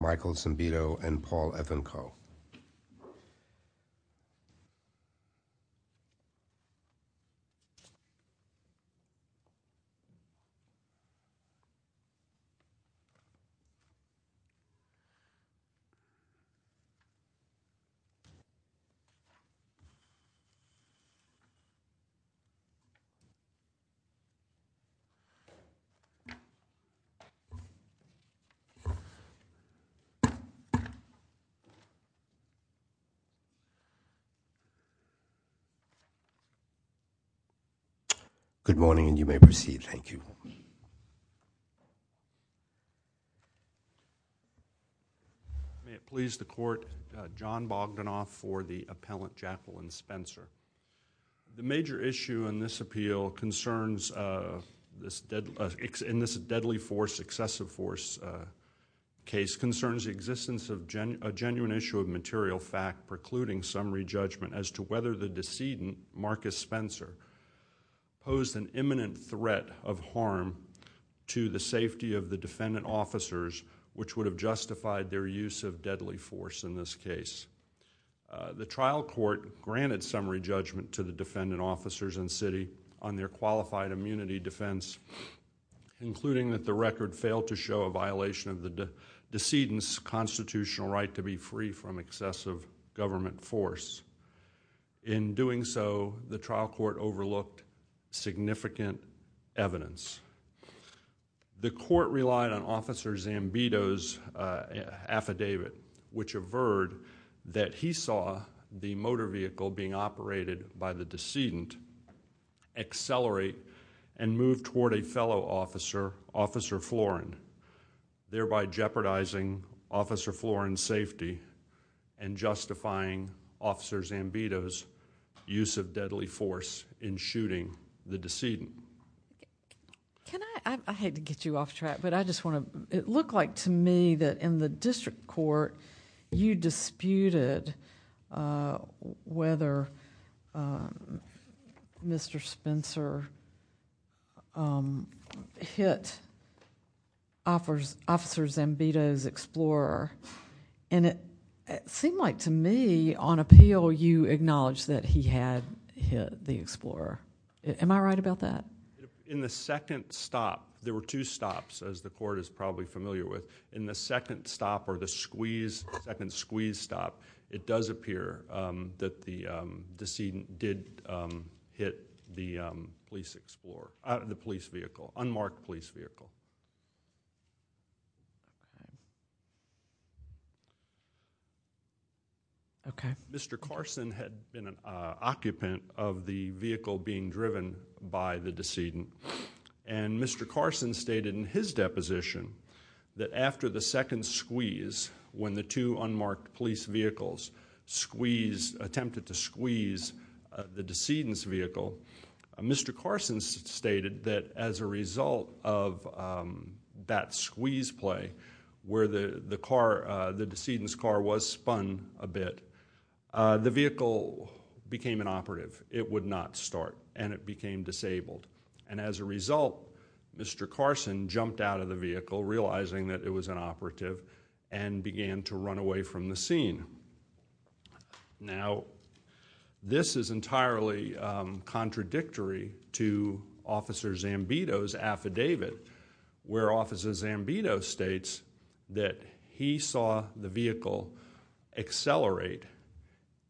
Michael Cimbito and Paul Evan Coe May it please the Court, John Bogdanoff for the Appellant Jacqueline Spencer. The major issue in this deadly force excessive force case concerns the existence of a genuine issue of material fact precluding summary judgment as to whether the decedent, Marcus Spencer, posed an imminent threat of harm to the safety of the defendant officers which would have justified their use of deadly force in this case. The trial court granted summary judgment to the defendant officers and city on their qualified immunity defense, including that the record failed to show a violation of the decedent's constitutional right to be free from excessive government force. In doing so, the trial court overlooked significant evidence. The court relied on Officer Zambito's affidavit which averred that he saw the motor vehicle being operated by the decedent accelerate and move toward a fellow officer, Officer Florin, thereby jeopardizing Officer Florin's safety and justifying Officer Zambito's use of deadly force in shooting the decedent. I hate to get you off track, but it looked like to me that in the district court you disputed whether Mr. Spencer hit Officer Zambito's explorer and it seemed like to me on appeal you acknowledged that he had hit the explorer. Am I right about that? In the second stop, there were two stops as the court is probably familiar with. In the second stop or the second squeeze stop, it does appear that the decedent did hit the police vehicle, unmarked police vehicle. Okay. Mr. Carson had been an occupant of the vehicle being driven by the decedent and Mr. Carson stated in his deposition that after the second squeeze when the two unmarked police vehicles attempted to squeeze the decedent's vehicle, Mr. Carson stated that as a result of that squeeze play where the decedent's car was spun a bit, the vehicle became an operative. It would not start and it became disabled. As a result, Mr. Carson jumped out of the vehicle realizing that it was an operative and began to run away from the scene. Now this is entirely contradictory to Officer Zambito's affidavit where Officer Zambito states that he saw the vehicle accelerate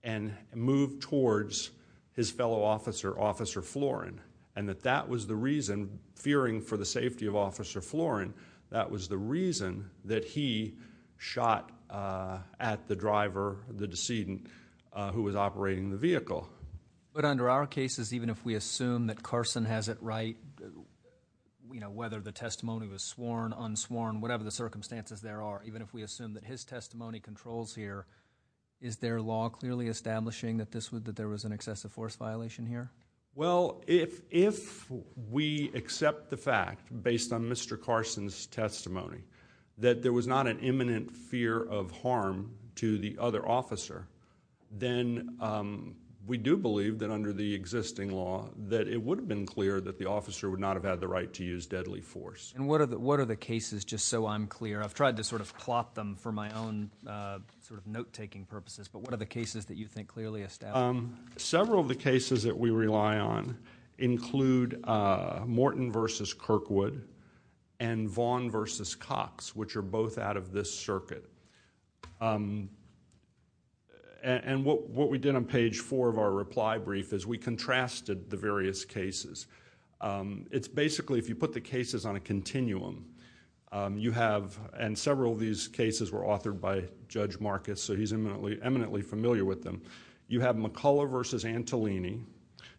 and move towards his fellow officer, Officer Florin and that that was the reason, fearing for the safety of Officer Florin, that was the reason that he shot at the driver, the decedent, who was operating the vehicle. But under our cases, even if we assume that Carson has it right, you know, whether the testimony was sworn, unsworn, whatever the circumstances there are, even if we assume that his testimony controls here, is their law clearly establishing that there was an excessive force violation here? Well, if we accept the fact, based on Mr. Carson's testimony, that there was not an imminent fear of harm to the other officer, then we do believe that under the existing law that it would have been clear that the officer would not have had the right to use deadly force. And what are the cases, just so I'm clear, I've tried to sort of plop them for my own sort of note-taking purposes, but what are the cases that you think clearly establish? Several of the cases that we rely on include Morton v. Kirkwood and Vaughn v. Cox, which are both out of this circuit. And what we did on page four of our reply brief is we contrasted the various cases. It's basically, if you put the cases on a continuum, you have, and several of these cases were authored by Judge Marcus, so he's eminently familiar with them. You have McCullough v. Antolini.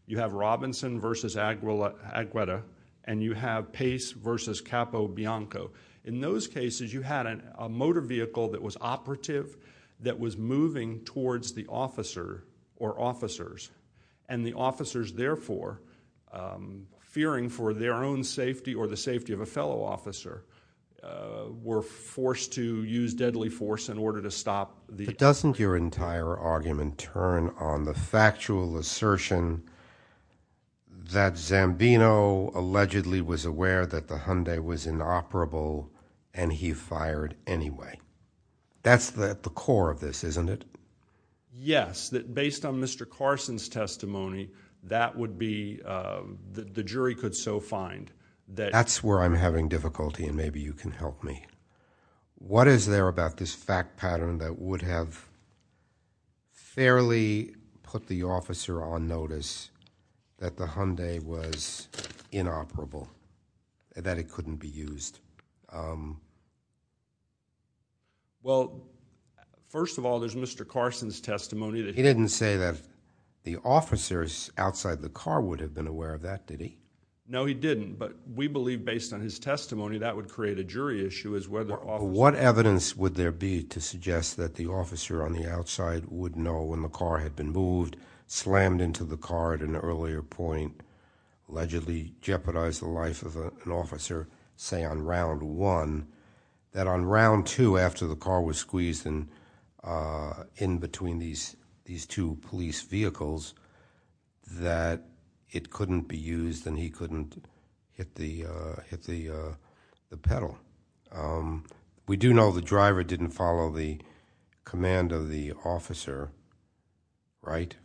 You have Robinson v. Agueda. And you have Pace v. Capo Bianco. In those cases, you had a motor vehicle that was operative, that was moving towards the officer or officers, and the officers, therefore, fearing for their own safety or the safety of a fellow officer, were forced to use deadly force in order to stop the- Doesn't your entire argument turn on the factual assertion that Zambino allegedly was aware that the Hyundai was inoperable and he fired anyway? That's the core of this, isn't it? Yes, that based on Mr. Carson's testimony, that would be, the jury could so find that- That's where I'm having difficulty and maybe you can help me. What is there about this fact pattern that would have fairly put the officer on notice that the Hyundai was inoperable, that it couldn't be used? Well, first of all, there's Mr. Carson's testimony that- He didn't say that the officers outside the car would have been aware of that, did he? No, he didn't, but we believe based on his testimony, that would create a jury issue What evidence would there be to suggest that the officer on the outside would know when the car had been moved, slammed into the car at an earlier point, allegedly jeopardized the life of an officer, say on round one, that on round two, after the car was squeezed in between these two police vehicles, that it couldn't be used and he couldn't hit the pedal. We do know the driver didn't follow the command of the officer, right?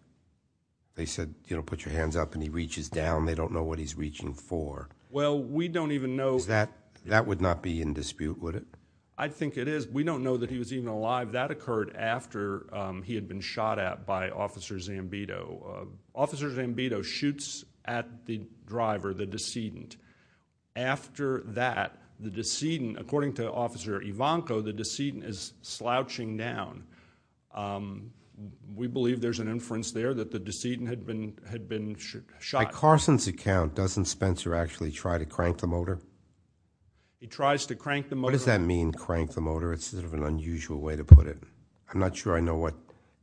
They said, you know, put your hands up and he reaches down, they don't know what he's reaching for. Well, we don't even know- That would not be in dispute, would it? I think it is. We don't know that he was even alive. That occurred after he had been shot at by Officer Zambito. Officer Zambito shoots at the driver, the decedent. After that, the decedent, according to Officer Ivanko, the decedent is slouching down. We believe there's an inference there that the decedent had been shot. By Carson's account, doesn't Spencer actually try to crank the motor? He tries to crank the motor- What does that mean, crank the motor? It's sort of an unusual way to put it. I'm not sure I know what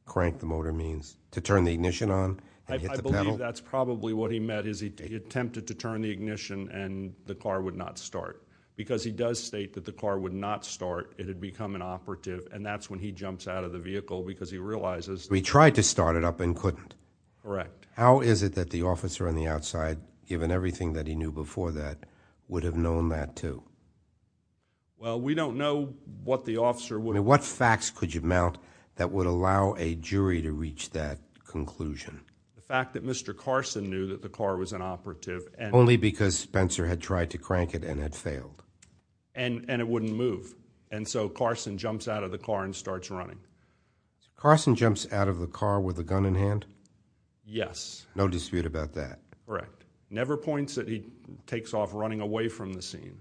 crank the motor means. To turn the ignition on? And hit the pedal? I believe that's probably what he meant, is he attempted to turn the ignition and the car would not start. Because he does state that the car would not start, it had become an operative, and that's when he jumps out of the vehicle, because he realizes- We tried to start it up and couldn't. Correct. How is it that the officer on the outside, given everything that he knew before that, would have known that too? Well, we don't know what the officer would- I mean, what facts could you mount that would allow a jury to reach that conclusion? The fact that Mr. Carson knew that the car was an operative and- Only because Spencer had tried to crank it and had failed. And it wouldn't move. And so Carson jumps out of the car and starts running. Carson jumps out of the car with a gun in hand? Yes. No dispute about that? Correct. Never points that he takes off running away from the scene.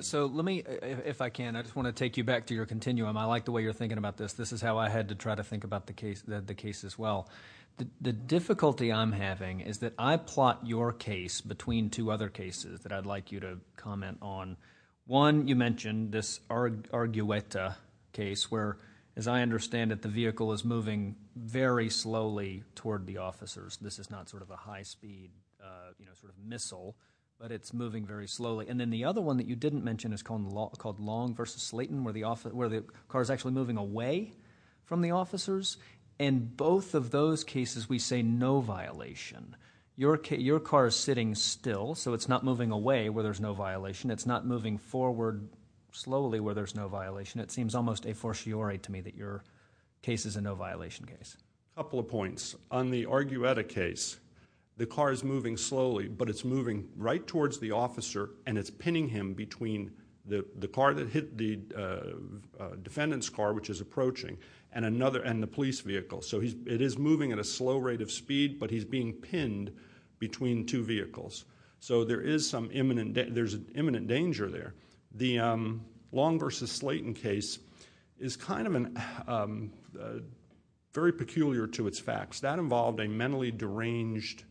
So let me, if I can, I just want to take you back to your continuum. I like the way you're thinking about this. This is how I had to try to think about the case as well. The difficulty I'm having is that I plot your case between two other cases that I'd like you to comment on. One, you mentioned this Argueta case, where, as I understand it, the vehicle is moving very slowly toward the officers. This is not sort of a high-speed missile, but it's moving very slowly. And then the other one that you didn't mention is called Long v. Slayton, where the car's actually moving away from the officers. In both of those cases, we say no violation. Your car is sitting still, so it's not moving away where there's no violation. It's not moving forward slowly where there's no violation. It seems almost a fortiori to me that your case is a no-violation case. Couple of points. On the Argueta case, the car is moving slowly, but it's moving right towards the officer, and it's pinning him between the car that hit the defendant's car, which is approaching, and the police vehicle. So it is moving at a slow rate of speed, but he's being pinned between two vehicles. So there is some imminent danger there. The Long v. Slayton case is kind of very peculiar to its facts. That involved a mentally deranged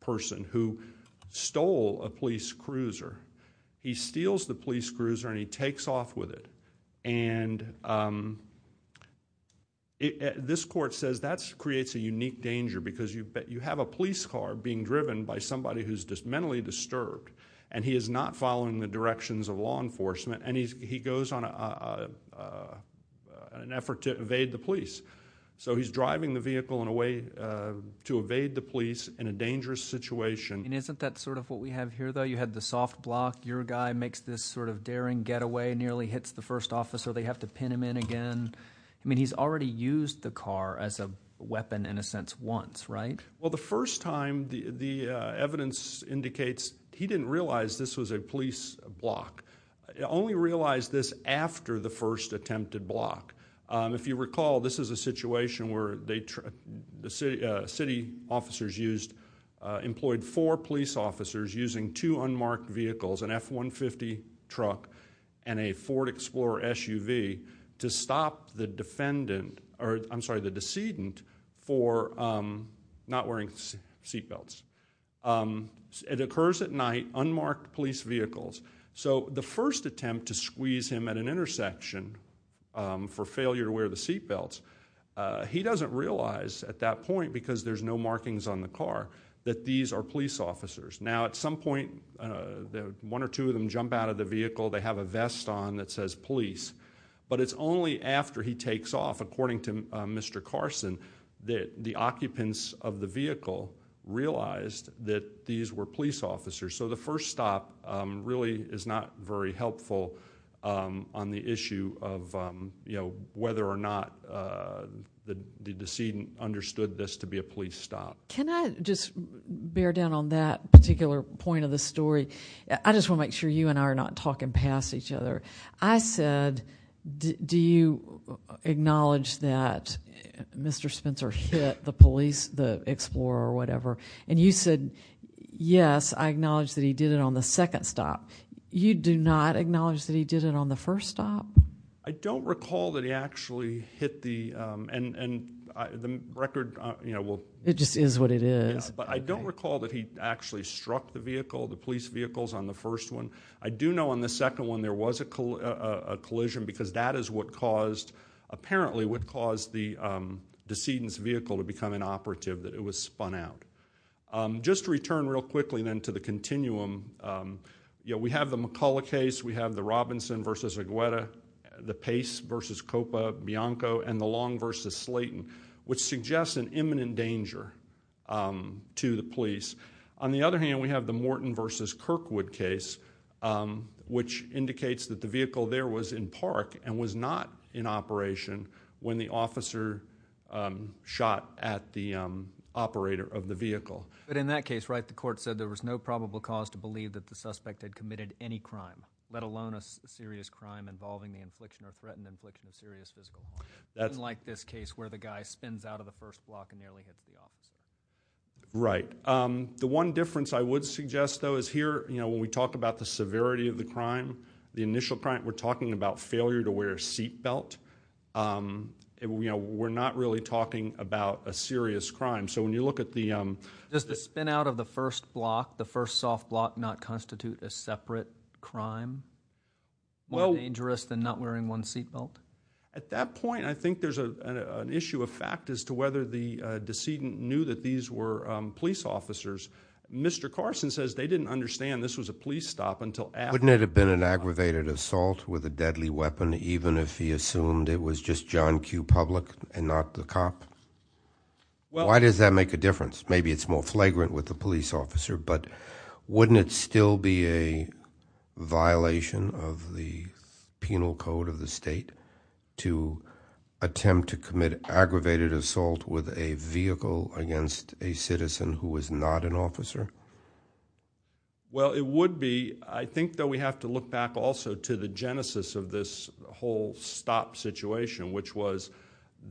person who stole a police cruiser. He steals the police cruiser, and he takes off with it. And this court says that creates a unique danger, because you have a police car being of law enforcement, and he goes on an effort to evade the police. So he's driving the vehicle in a way to evade the police in a dangerous situation. And isn't that sort of what we have here, though? You had the soft block. Your guy makes this sort of daring getaway, nearly hits the first officer. They have to pin him in again. I mean, he's already used the car as a weapon, in a sense, once, right? Well, the first time, the evidence indicates he didn't realize this was a police block. He only realized this after the first attempted block. If you recall, this is a situation where the city officers employed four police officers using two unmarked vehicles, an F-150 truck and a Ford Explorer SUV, to stop the defendant, or I'm sorry, the decedent, for not wearing seatbelts. It occurs at night, unmarked police vehicles. So the first attempt to squeeze him at an intersection for failure to wear the seatbelts, he doesn't realize at that point, because there's no markings on the car, that these are police officers. Now, at some point, one or two of them jump out of the vehicle. They have a vest on that says police. But it's only after he takes off, according to Mr. Carson, that the occupants of the vehicle realized that these were police officers. So the first stop really is not very helpful on the issue of, you know, whether or not the decedent understood this to be a police stop. Can I just bear down on that particular point of the story? I just want to make sure you and I are not talking past each other. I said, do you acknowledge that Mr. Spencer hit the police, the Explorer, or whatever? And you said, yes, I acknowledge that he did it on the second stop. You do not acknowledge that he did it on the first stop? I don't recall that he actually hit the, and the record, you know, will. It just is what it is. But I don't recall that he actually struck the vehicle, the police vehicles on the first one. I do know on the second one there was a collision, because that is what caused, apparently, what caused the decedent's vehicle to become an operative, that it was spun out. Just to return real quickly, then, to the continuum, you know, we have the McCulloch case. We have the Robinson versus Agueda, the Pace versus Copa, Bianco, and the Long versus Slayton, which suggests an imminent danger to the police. On the other hand, we have the Morton versus Kirkwood case, which indicates that the vehicle there was in park and was not in operation when the officer shot at the operator of the vehicle. But in that case, right, the court said there was no probable cause to believe that the suspect had committed any crime, let alone a serious crime involving the infliction or threatened infliction of serious physical harm, unlike this case where the guy spins out of the first block and nearly hits the officer. Right. The one difference I would suggest, though, is here, you know, when we talk about the severity of the crime, the initial crime, we're talking about failure to wear a seat belt. You know, we're not really talking about a serious crime. So when you look at the... Does the spin out of the first block, the first soft block not constitute a separate crime? Well... More dangerous than not wearing one seat belt? At that point, I think there's an issue of fact as to whether the decedent knew that these were police officers. Mr Carson says they didn't understand this was a police stop until after... Wouldn't it have been an aggravated assault with a deadly weapon, even if he assumed it was just John Q Public and not the cop? Well... Why does that make a difference? Maybe it's more flagrant with the police officer, but wouldn't it still be a violation of the penal code of the state to attempt to commit aggravated assault with a vehicle against a citizen who was not an officer? Well, it would be. I think, though, we have to look back also to the genesis of this whole stop situation, which was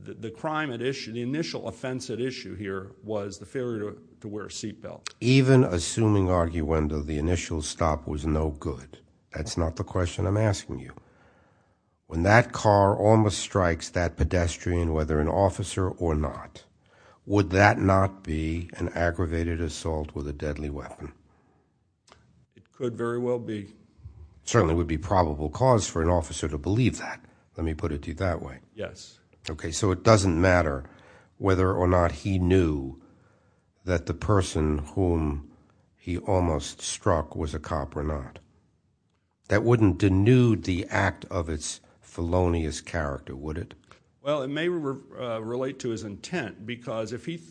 the crime at issue... The initial offense at issue here was the failure to wear a seat belt. Even assuming, Arguendo, the initial stop was no good. That's not the question I'm asking you. When that car almost strikes that pedestrian, whether an officer or not, would that not be an aggravated assault with a deadly weapon? It could very well be. Certainly would be probable cause for an officer to believe that. Let me put it to you that way. Yes. OK, so it doesn't matter whether or not he knew that the person whom he almost struck was a cop or not. That wouldn't denude the act of its felonious character, would it? Well, it may relate to his intent, because if he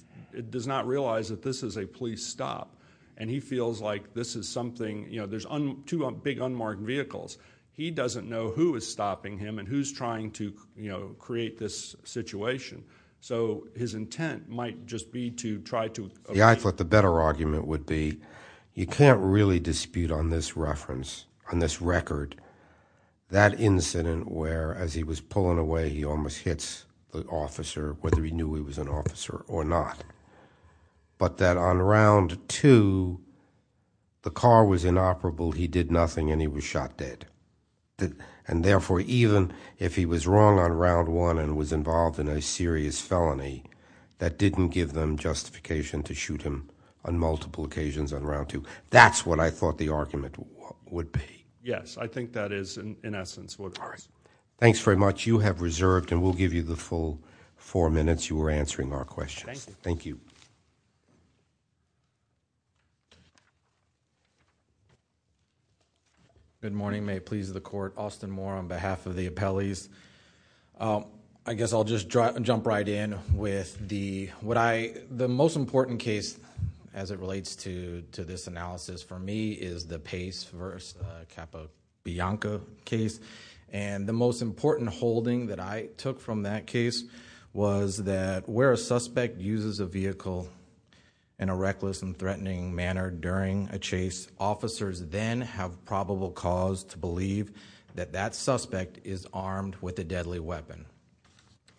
does not realize that this is a police stop and he feels like this is something... You know, there's two big unmarked vehicles. He doesn't know who is stopping him and who's trying to, you know, create this situation. So his intent might just be to try to... Yeah, I thought the better argument would be, you can't really dispute on this reference, on this record, that incident where, as he was pulling away, he almost hits the officer, whether he knew he was an officer or not. But that on round two, the car was inoperable, he did nothing and he was shot dead. And therefore, even if he was wrong on round one and was involved in a serious felony, that didn't give them justification to shoot him on multiple occasions on round two. That's what I thought the argument would be. Yes, I think that is, in essence, what... Thanks very much. You have reserved, and we'll give you the full four minutes. You were answering our questions. Thank you. Good morning. May it please the court. Austin Moore on behalf of the appellees. I guess I'll just jump right in with the... What I... The most important case, as it relates to this analysis, for me, is the Pace versus Capo Bianco case. And the most important holding that I took from that case was that where a suspect uses a vehicle in a reckless and threatening manner during a chase, officers then have probable cause to believe that that suspect is armed with a deadly weapon.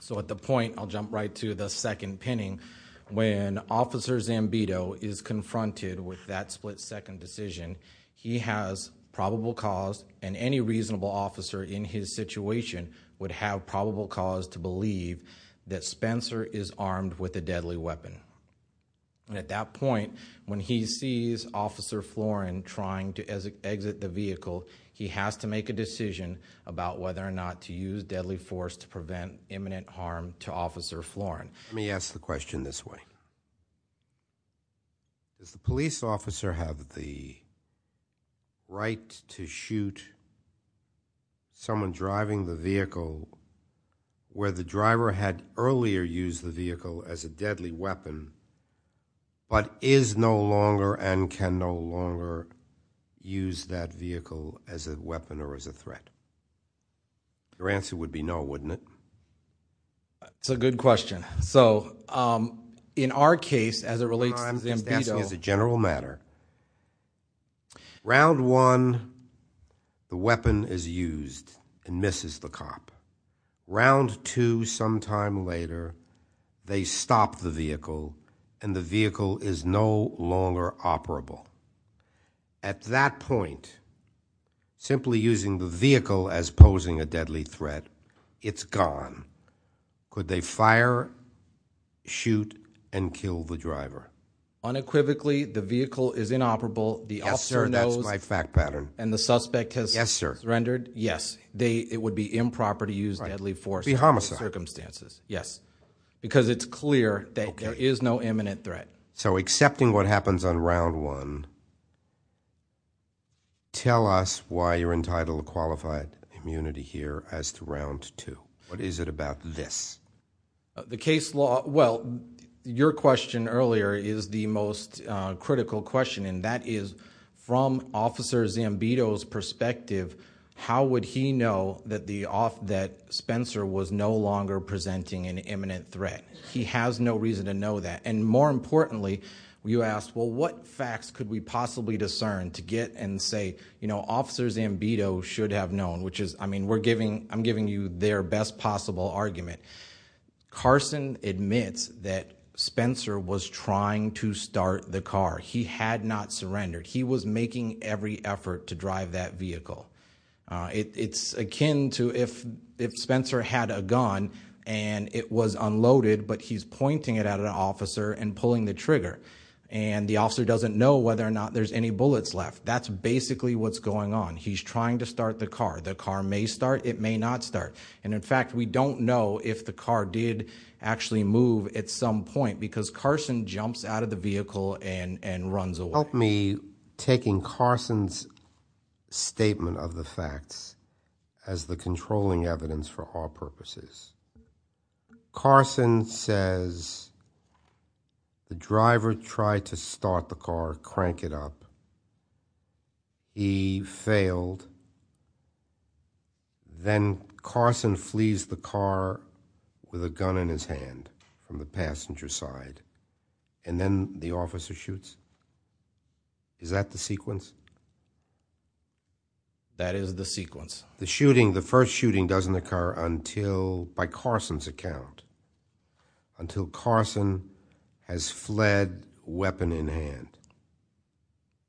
So, at the point... I'll jump right to the second pinning. When Officer Zambito is confronted with that split-second decision, he has probable cause, and any reasonable officer in his situation would have probable cause to believe that Spencer is armed with a deadly weapon. And at that point, when he sees Officer Florin trying to exit the vehicle, he has to make a decision about whether or not to use deadly force to prevent imminent harm to Officer Florin. Let me ask the question this way. Does the police officer have the right to shoot someone driving the vehicle where the driver had earlier used the vehicle as a deadly weapon but is no longer and can no longer use that vehicle as a weapon or as a threat? Your answer would be no, wouldn't it? It's a good question. So, in our case, as it relates to Zambito... No, I'm just asking as a general matter. Round one, the weapon is used and misses the cop. Round two, some time later, they stop the vehicle and the vehicle is no longer operable. At that point, simply using the vehicle as posing a deadly threat, it's gone. Could they fire, shoot and kill the driver? Unequivocally, the vehicle is inoperable, the officer knows... Yes, sir, that's my fact pattern. ..and the suspect has surrendered? Yes, sir. Yes, it would be improper to use deadly force... It would be homicide. ..in those circumstances, yes. Because it's clear that there is no imminent threat. So, accepting what happens on round one, tell us why you're entitled to qualified immunity here as to round two. What is it about this? The case law... Well, your question earlier, is the most critical question and that is, from Officer Zambito's perspective, how would he know that Spencer was no longer presenting an imminent threat? He has no reason to know that. And more importantly, you asked, well, what facts could we possibly discern to get and say, you know, Officer Zambito should have known, which is, I mean, I'm giving you their best possible argument. Carson admits that Spencer was trying to start the car. He had not surrendered. He was making every effort to drive that vehicle. It's akin to if Spencer had a gun and it was unloaded, but he's pointing it at an officer and pulling the trigger. And the officer doesn't know whether or not there's any bullets left. That's basically what's going on. He's trying to start the car. The car may start, it may not start. And in fact, we don't know if the car did actually move at some point because Carson jumps out of the vehicle and runs away. Help me taking Carson's statement of the facts as the controlling evidence for our purposes. Carson says the driver tried to start the car, crank it up. He failed. Then Carson flees the car with a gun in his hand from the passenger side. And then the officer shoots. Is that the sequence? That is the sequence. The shooting, the first shooting doesn't occur until, by Carson's account, until Carson has fled weapon in hand.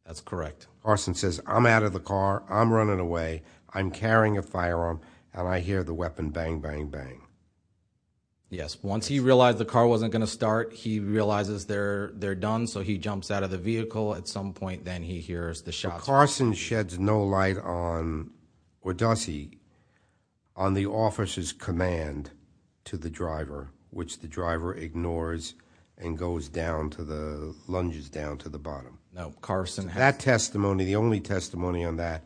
That's correct. Carson says, I'm out of the car, I'm running away, I'm carrying a firearm, and I hear the weapon bang, bang, bang. Yes. Once he realized the car wasn't going to start, he realizes they're done, so he jumps out of the vehicle. At some point, then he hears the shots. But Carson sheds no light on, or does he, on the officer's command to the driver, which the driver ignores and goes down to the, lunges down to the bottom. No. That testimony, the only testimony on that,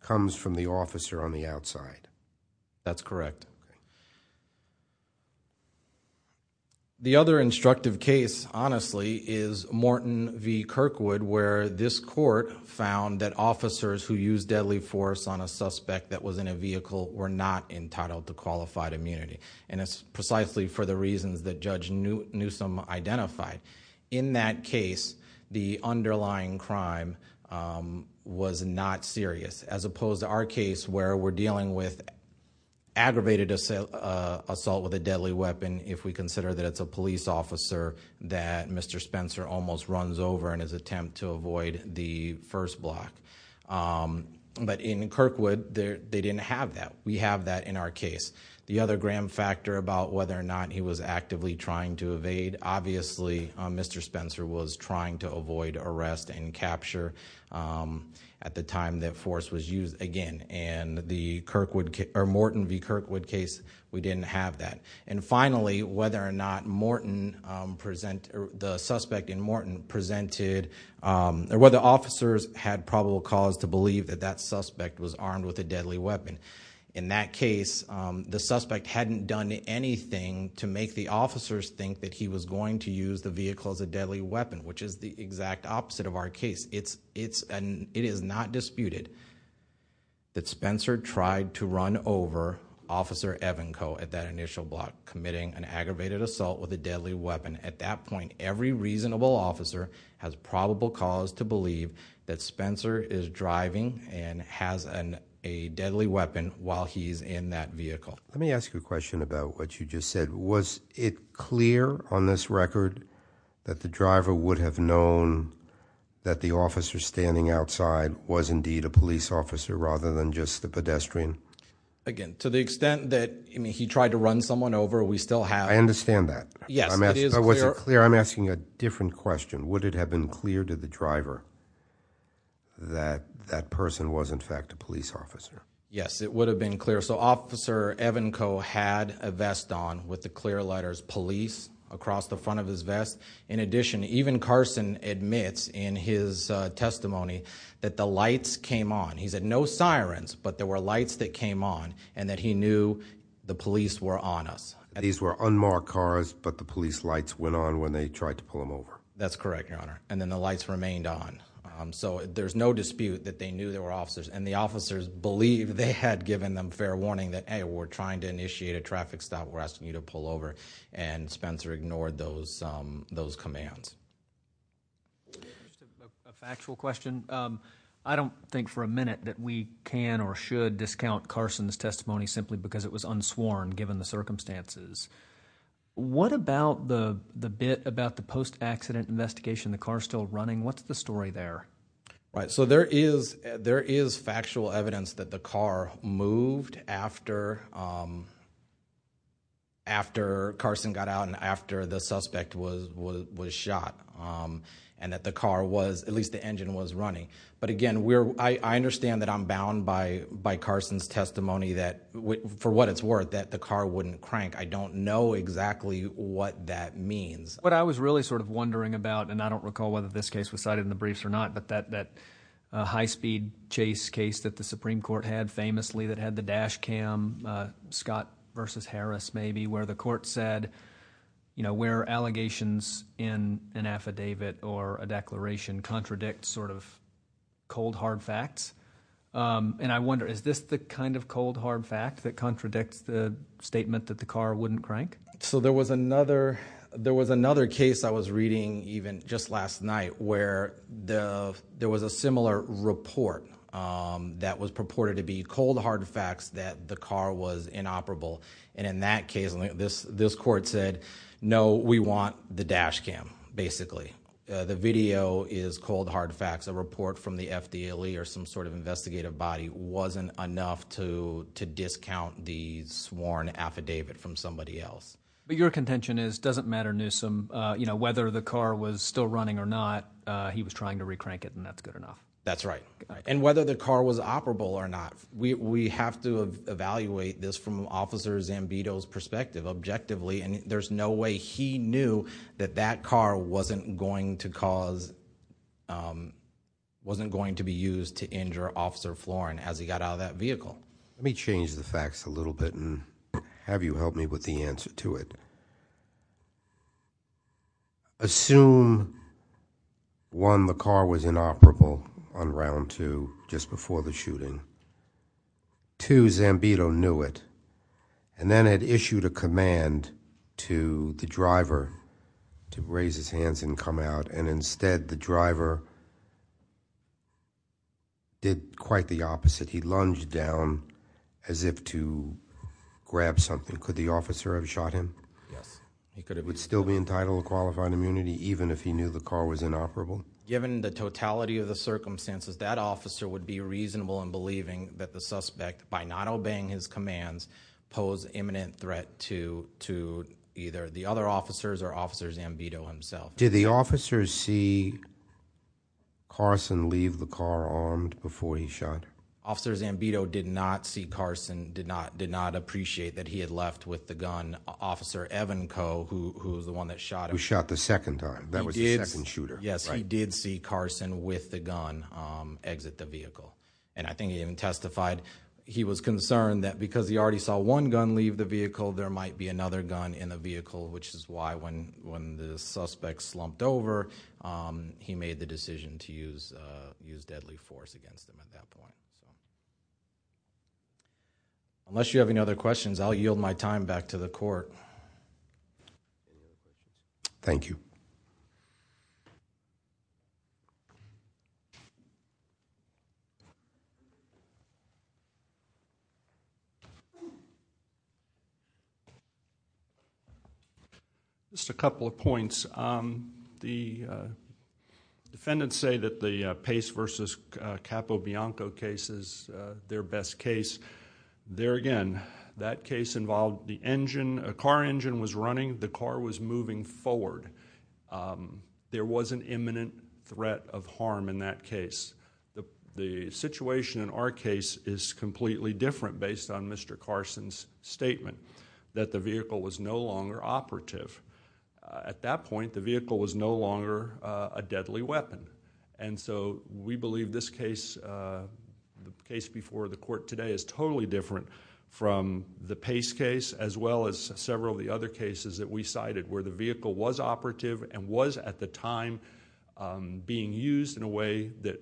comes from the officer on the outside. That's correct. The other instructive case, honestly, is Morton v. Kirkwood, where this court found that officers who used deadly force on a suspect that was in a vehicle were not entitled to qualified immunity. And it's precisely for the reasons that Judge Newsom identified. In that case, the underlying crime was not serious, as opposed to our case where we're dealing with aggravated assault with a deadly weapon, if we consider that it's a police officer that Mr. Spencer almost runs over in his attempt to avoid the first block. But in Kirkwood, they didn't have that. We have that in our case. The other grand factor about whether or not he was actively trying to evade, obviously, Mr. Spencer was trying to avoid arrest and capture at the time that force was used again. In the Morton v. Kirkwood case, we didn't have that. And finally, whether or not the suspect in Morton presented, or whether officers had probable cause to believe that that suspect was armed with a deadly weapon. In that case, the suspect hadn't done anything to make the officers think that he was going to use the vehicle as a deadly weapon, which is the exact opposite of our case. It is not disputed that Spencer tried to run over Officer Evanco at that initial block, committing an aggravated assault with a deadly weapon. At that point, every reasonable officer has probable cause to believe that Spencer is driving and has a deadly weapon while he's in that vehicle. Let me ask you a question about what you just said. Was it clear on this record that the driver would have known that the officer standing outside was indeed a police officer rather than just the pedestrian? Again, to the extent that he tried to run someone over, we still have— I understand that. Yes, it is clear. I'm asking a different question. Would it have been clear to the driver that that person was, in fact, a police officer? Yes, it would have been clear. So Officer Evanco had a vest on with the clear letters police across the front of his vest. In addition, even Carson admits in his testimony that the lights came on. He said no sirens, but there were lights that came on and that he knew the police were on us. These were unmarked cars, but the police lights went on when they tried to pull him over. That's correct, Your Honor, and then the lights remained on. So there's no dispute that they knew there were officers, and the officers believed they had given them fair warning that, hey, we're trying to initiate a traffic stop. We're asking you to pull over, and Spencer ignored those commands. A factual question. I don't think for a minute that we can or should discount Carson's testimony simply because it was unsworn given the circumstances. What about the bit about the post-accident investigation, the car still running? What's the story there? So there is factual evidence that the car moved after Carson got out and after the suspect was shot and that the car was, at least the engine, was running. But, again, I understand that I'm bound by Carson's testimony that, for what it's worth, that the car wouldn't crank. I don't know exactly what that means. What I was really sort of wondering about, and I don't recall whether this case was cited in the briefs or not, but that high-speed chase case that the Supreme Court had famously that had the dash cam, Scott v. Harris maybe, where the court said where allegations in an affidavit or a declaration contradict sort of cold, hard facts. And I wonder, is this the kind of cold, hard fact that contradicts the statement that the car wouldn't crank? So there was another case I was reading even just last night where there was a similar report that was purported to be cold, hard facts that the car was inoperable. And in that case, this court said, no, we want the dash cam, basically. The video is cold, hard facts. A report from the FDLE or some sort of investigative body wasn't enough to discount the sworn affidavit from somebody else. But your contention is it doesn't matter, Newsom. Whether the car was still running or not, he was trying to recrank it, and that's good enough. That's right. And whether the car was operable or not, we have to evaluate this from Officer Zambito's perspective objectively, and there's no way he knew that that car wasn't going to cause, wasn't going to be used to injure Officer Floren as he got out of that vehicle. Let me change the facts a little bit and have you help me with the answer to it. Assume, one, the car was inoperable on round two just before the shooting, two, Zambito knew it, and then had issued a command to the driver to raise his hands and come out, and instead the driver did quite the opposite. He lunged down as if to grab something. Could the officer have shot him? Yes, he could have. Would he still be entitled to qualified immunity even if he knew the car was inoperable? Given the totality of the circumstances, by not obeying his commands, pose imminent threat to either the other officers or Officer Zambito himself. Did the officer see Carson leave the car armed before he shot? Officer Zambito did not see Carson, did not appreciate that he had left with the gun. Officer Evanco, who was the one that shot him. Who shot the second time, that was the second shooter. Yes, he did see Carson with the gun exit the vehicle, and I think he even testified he was concerned that because he already saw one gun leave the vehicle, there might be another gun in the vehicle, which is why when the suspect slumped over, he made the decision to use deadly force against him at that point. Unless you have any other questions, I'll yield my time back to the court. Thank you. Thank you. Just a couple of points. The defendants say that the Pace v. Capobianco case is their best case. There again, that case involved the engine, a car engine was running, the car was moving forward. There was an imminent threat of harm in that case. The situation in our case is completely different based on Mr. Carson's statement that the vehicle was no longer operative. At that point, the vehicle was no longer a deadly weapon, and so we believe this case, the case before the court today, is totally different from the Pace case as well as several of the other cases that we cited where the vehicle was operative and was, at the time, being used in a way that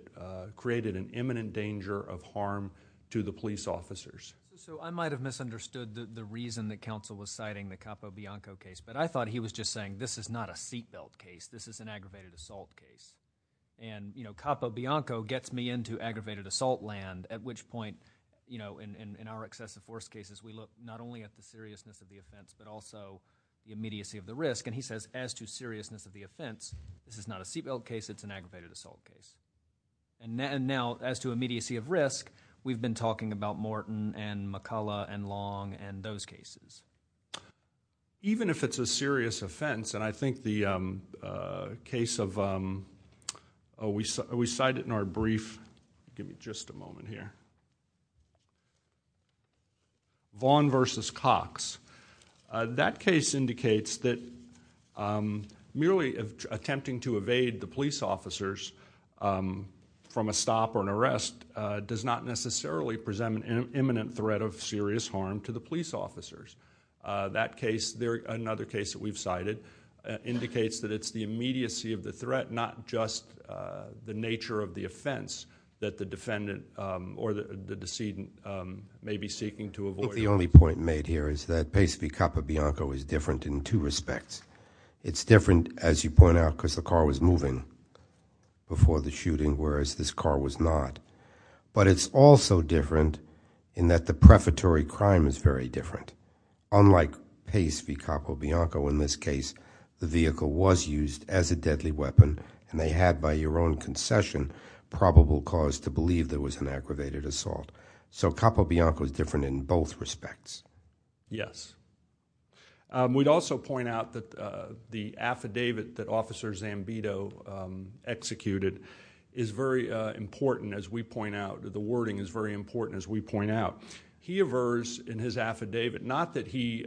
created an imminent danger of harm to the police officers. I might have misunderstood the reason that counsel was citing the Capobianco case, but I thought he was just saying, this is not a seatbelt case, this is an aggravated assault case. Capobianco gets me into aggravated assault land, at which point, in our excessive force cases, we look not only at the seriousness of the offense but also the immediacy of the risk. He says, as to seriousness of the offense, this is not a seatbelt case, it's an aggravated assault case. Now, as to immediacy of risk, we've been talking about Morton and McCullough and Long and those cases. Even if it's a serious offense, and I think the case of... Oh, we cited in our brief... Give me just a moment here. Vaughn v. Cox. That case indicates that merely attempting to evade the police officers from a stop or an arrest does not necessarily present an imminent threat of serious harm to the police officers. That case, another case that we've cited, indicates that it's the immediacy of the threat, not just the nature of the offense that the defendant or the decedent may be seeking to avoid. I think the only point made here is that Pace v. Capobianco is different in two respects. It's different, as you point out, because the car was moving before the shooting, whereas this car was not. But it's also different in that the prefatory crime is very different. Unlike Pace v. Capobianco, in this case, the vehicle was used as a deadly weapon, and they had, by your own concession, probable cause to believe there was an aggravated assault. So Capobianco is different in both respects. Yes. We'd also point out that the affidavit that Officer Zambito executed is very important, as we point out. The wording is very important, as we point out. He avers in his affidavit, not that he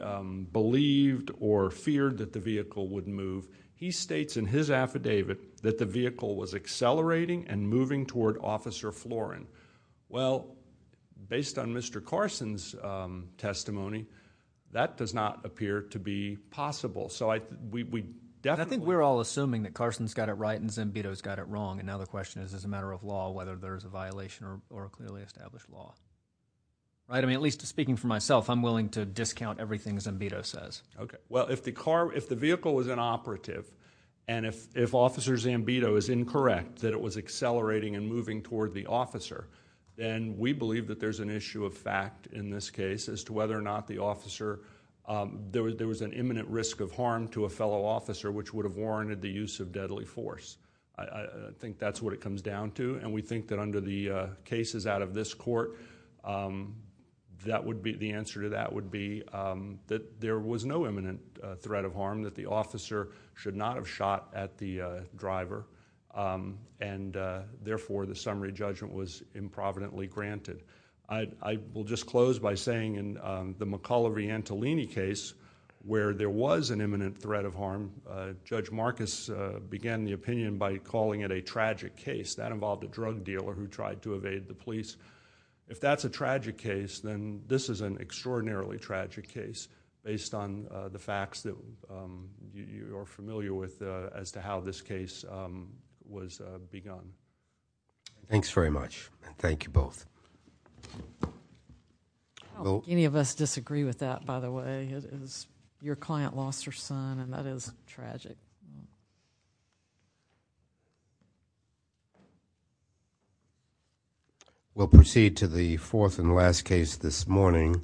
believed or feared that the vehicle would move. He states in his affidavit that the vehicle was accelerating and moving toward Officer Florin. Well, based on Mr. Carson's testimony, that does not appear to be possible. I think we're all assuming that Carson's got it right and Zambito's got it wrong, and now the question is, as a matter of law, whether there's a violation or a clearly established law. At least speaking for myself, I'm willing to discount everything Zambito says. Well, if the vehicle was inoperative, and if Officer Zambito is incorrect that it was accelerating and moving toward the officer, then we believe that there's an issue of fact in this case as to whether or not the officer... There was an imminent risk of harm to a fellow officer which would have warranted the use of deadly force. I think that's what it comes down to, and we think that under the cases out of this court, the answer to that would be that there was no imminent threat of harm, that the officer should not have shot at the driver, and therefore the summary judgment was improvidently granted. I will just close by saying in the McCullough v. Antolini case, where there was an imminent threat of harm, Judge Marcus began the opinion by calling it a tragic case. That involved a drug dealer who tried to evade the police. If that's a tragic case, then this is an extraordinarily tragic case based on the facts that you are familiar with as to how this case was begun. Thanks very much, and thank you both. Any of us disagree with that, by the way? Your client lost her son, and that is tragic. We'll proceed to the fourth and last case this morning.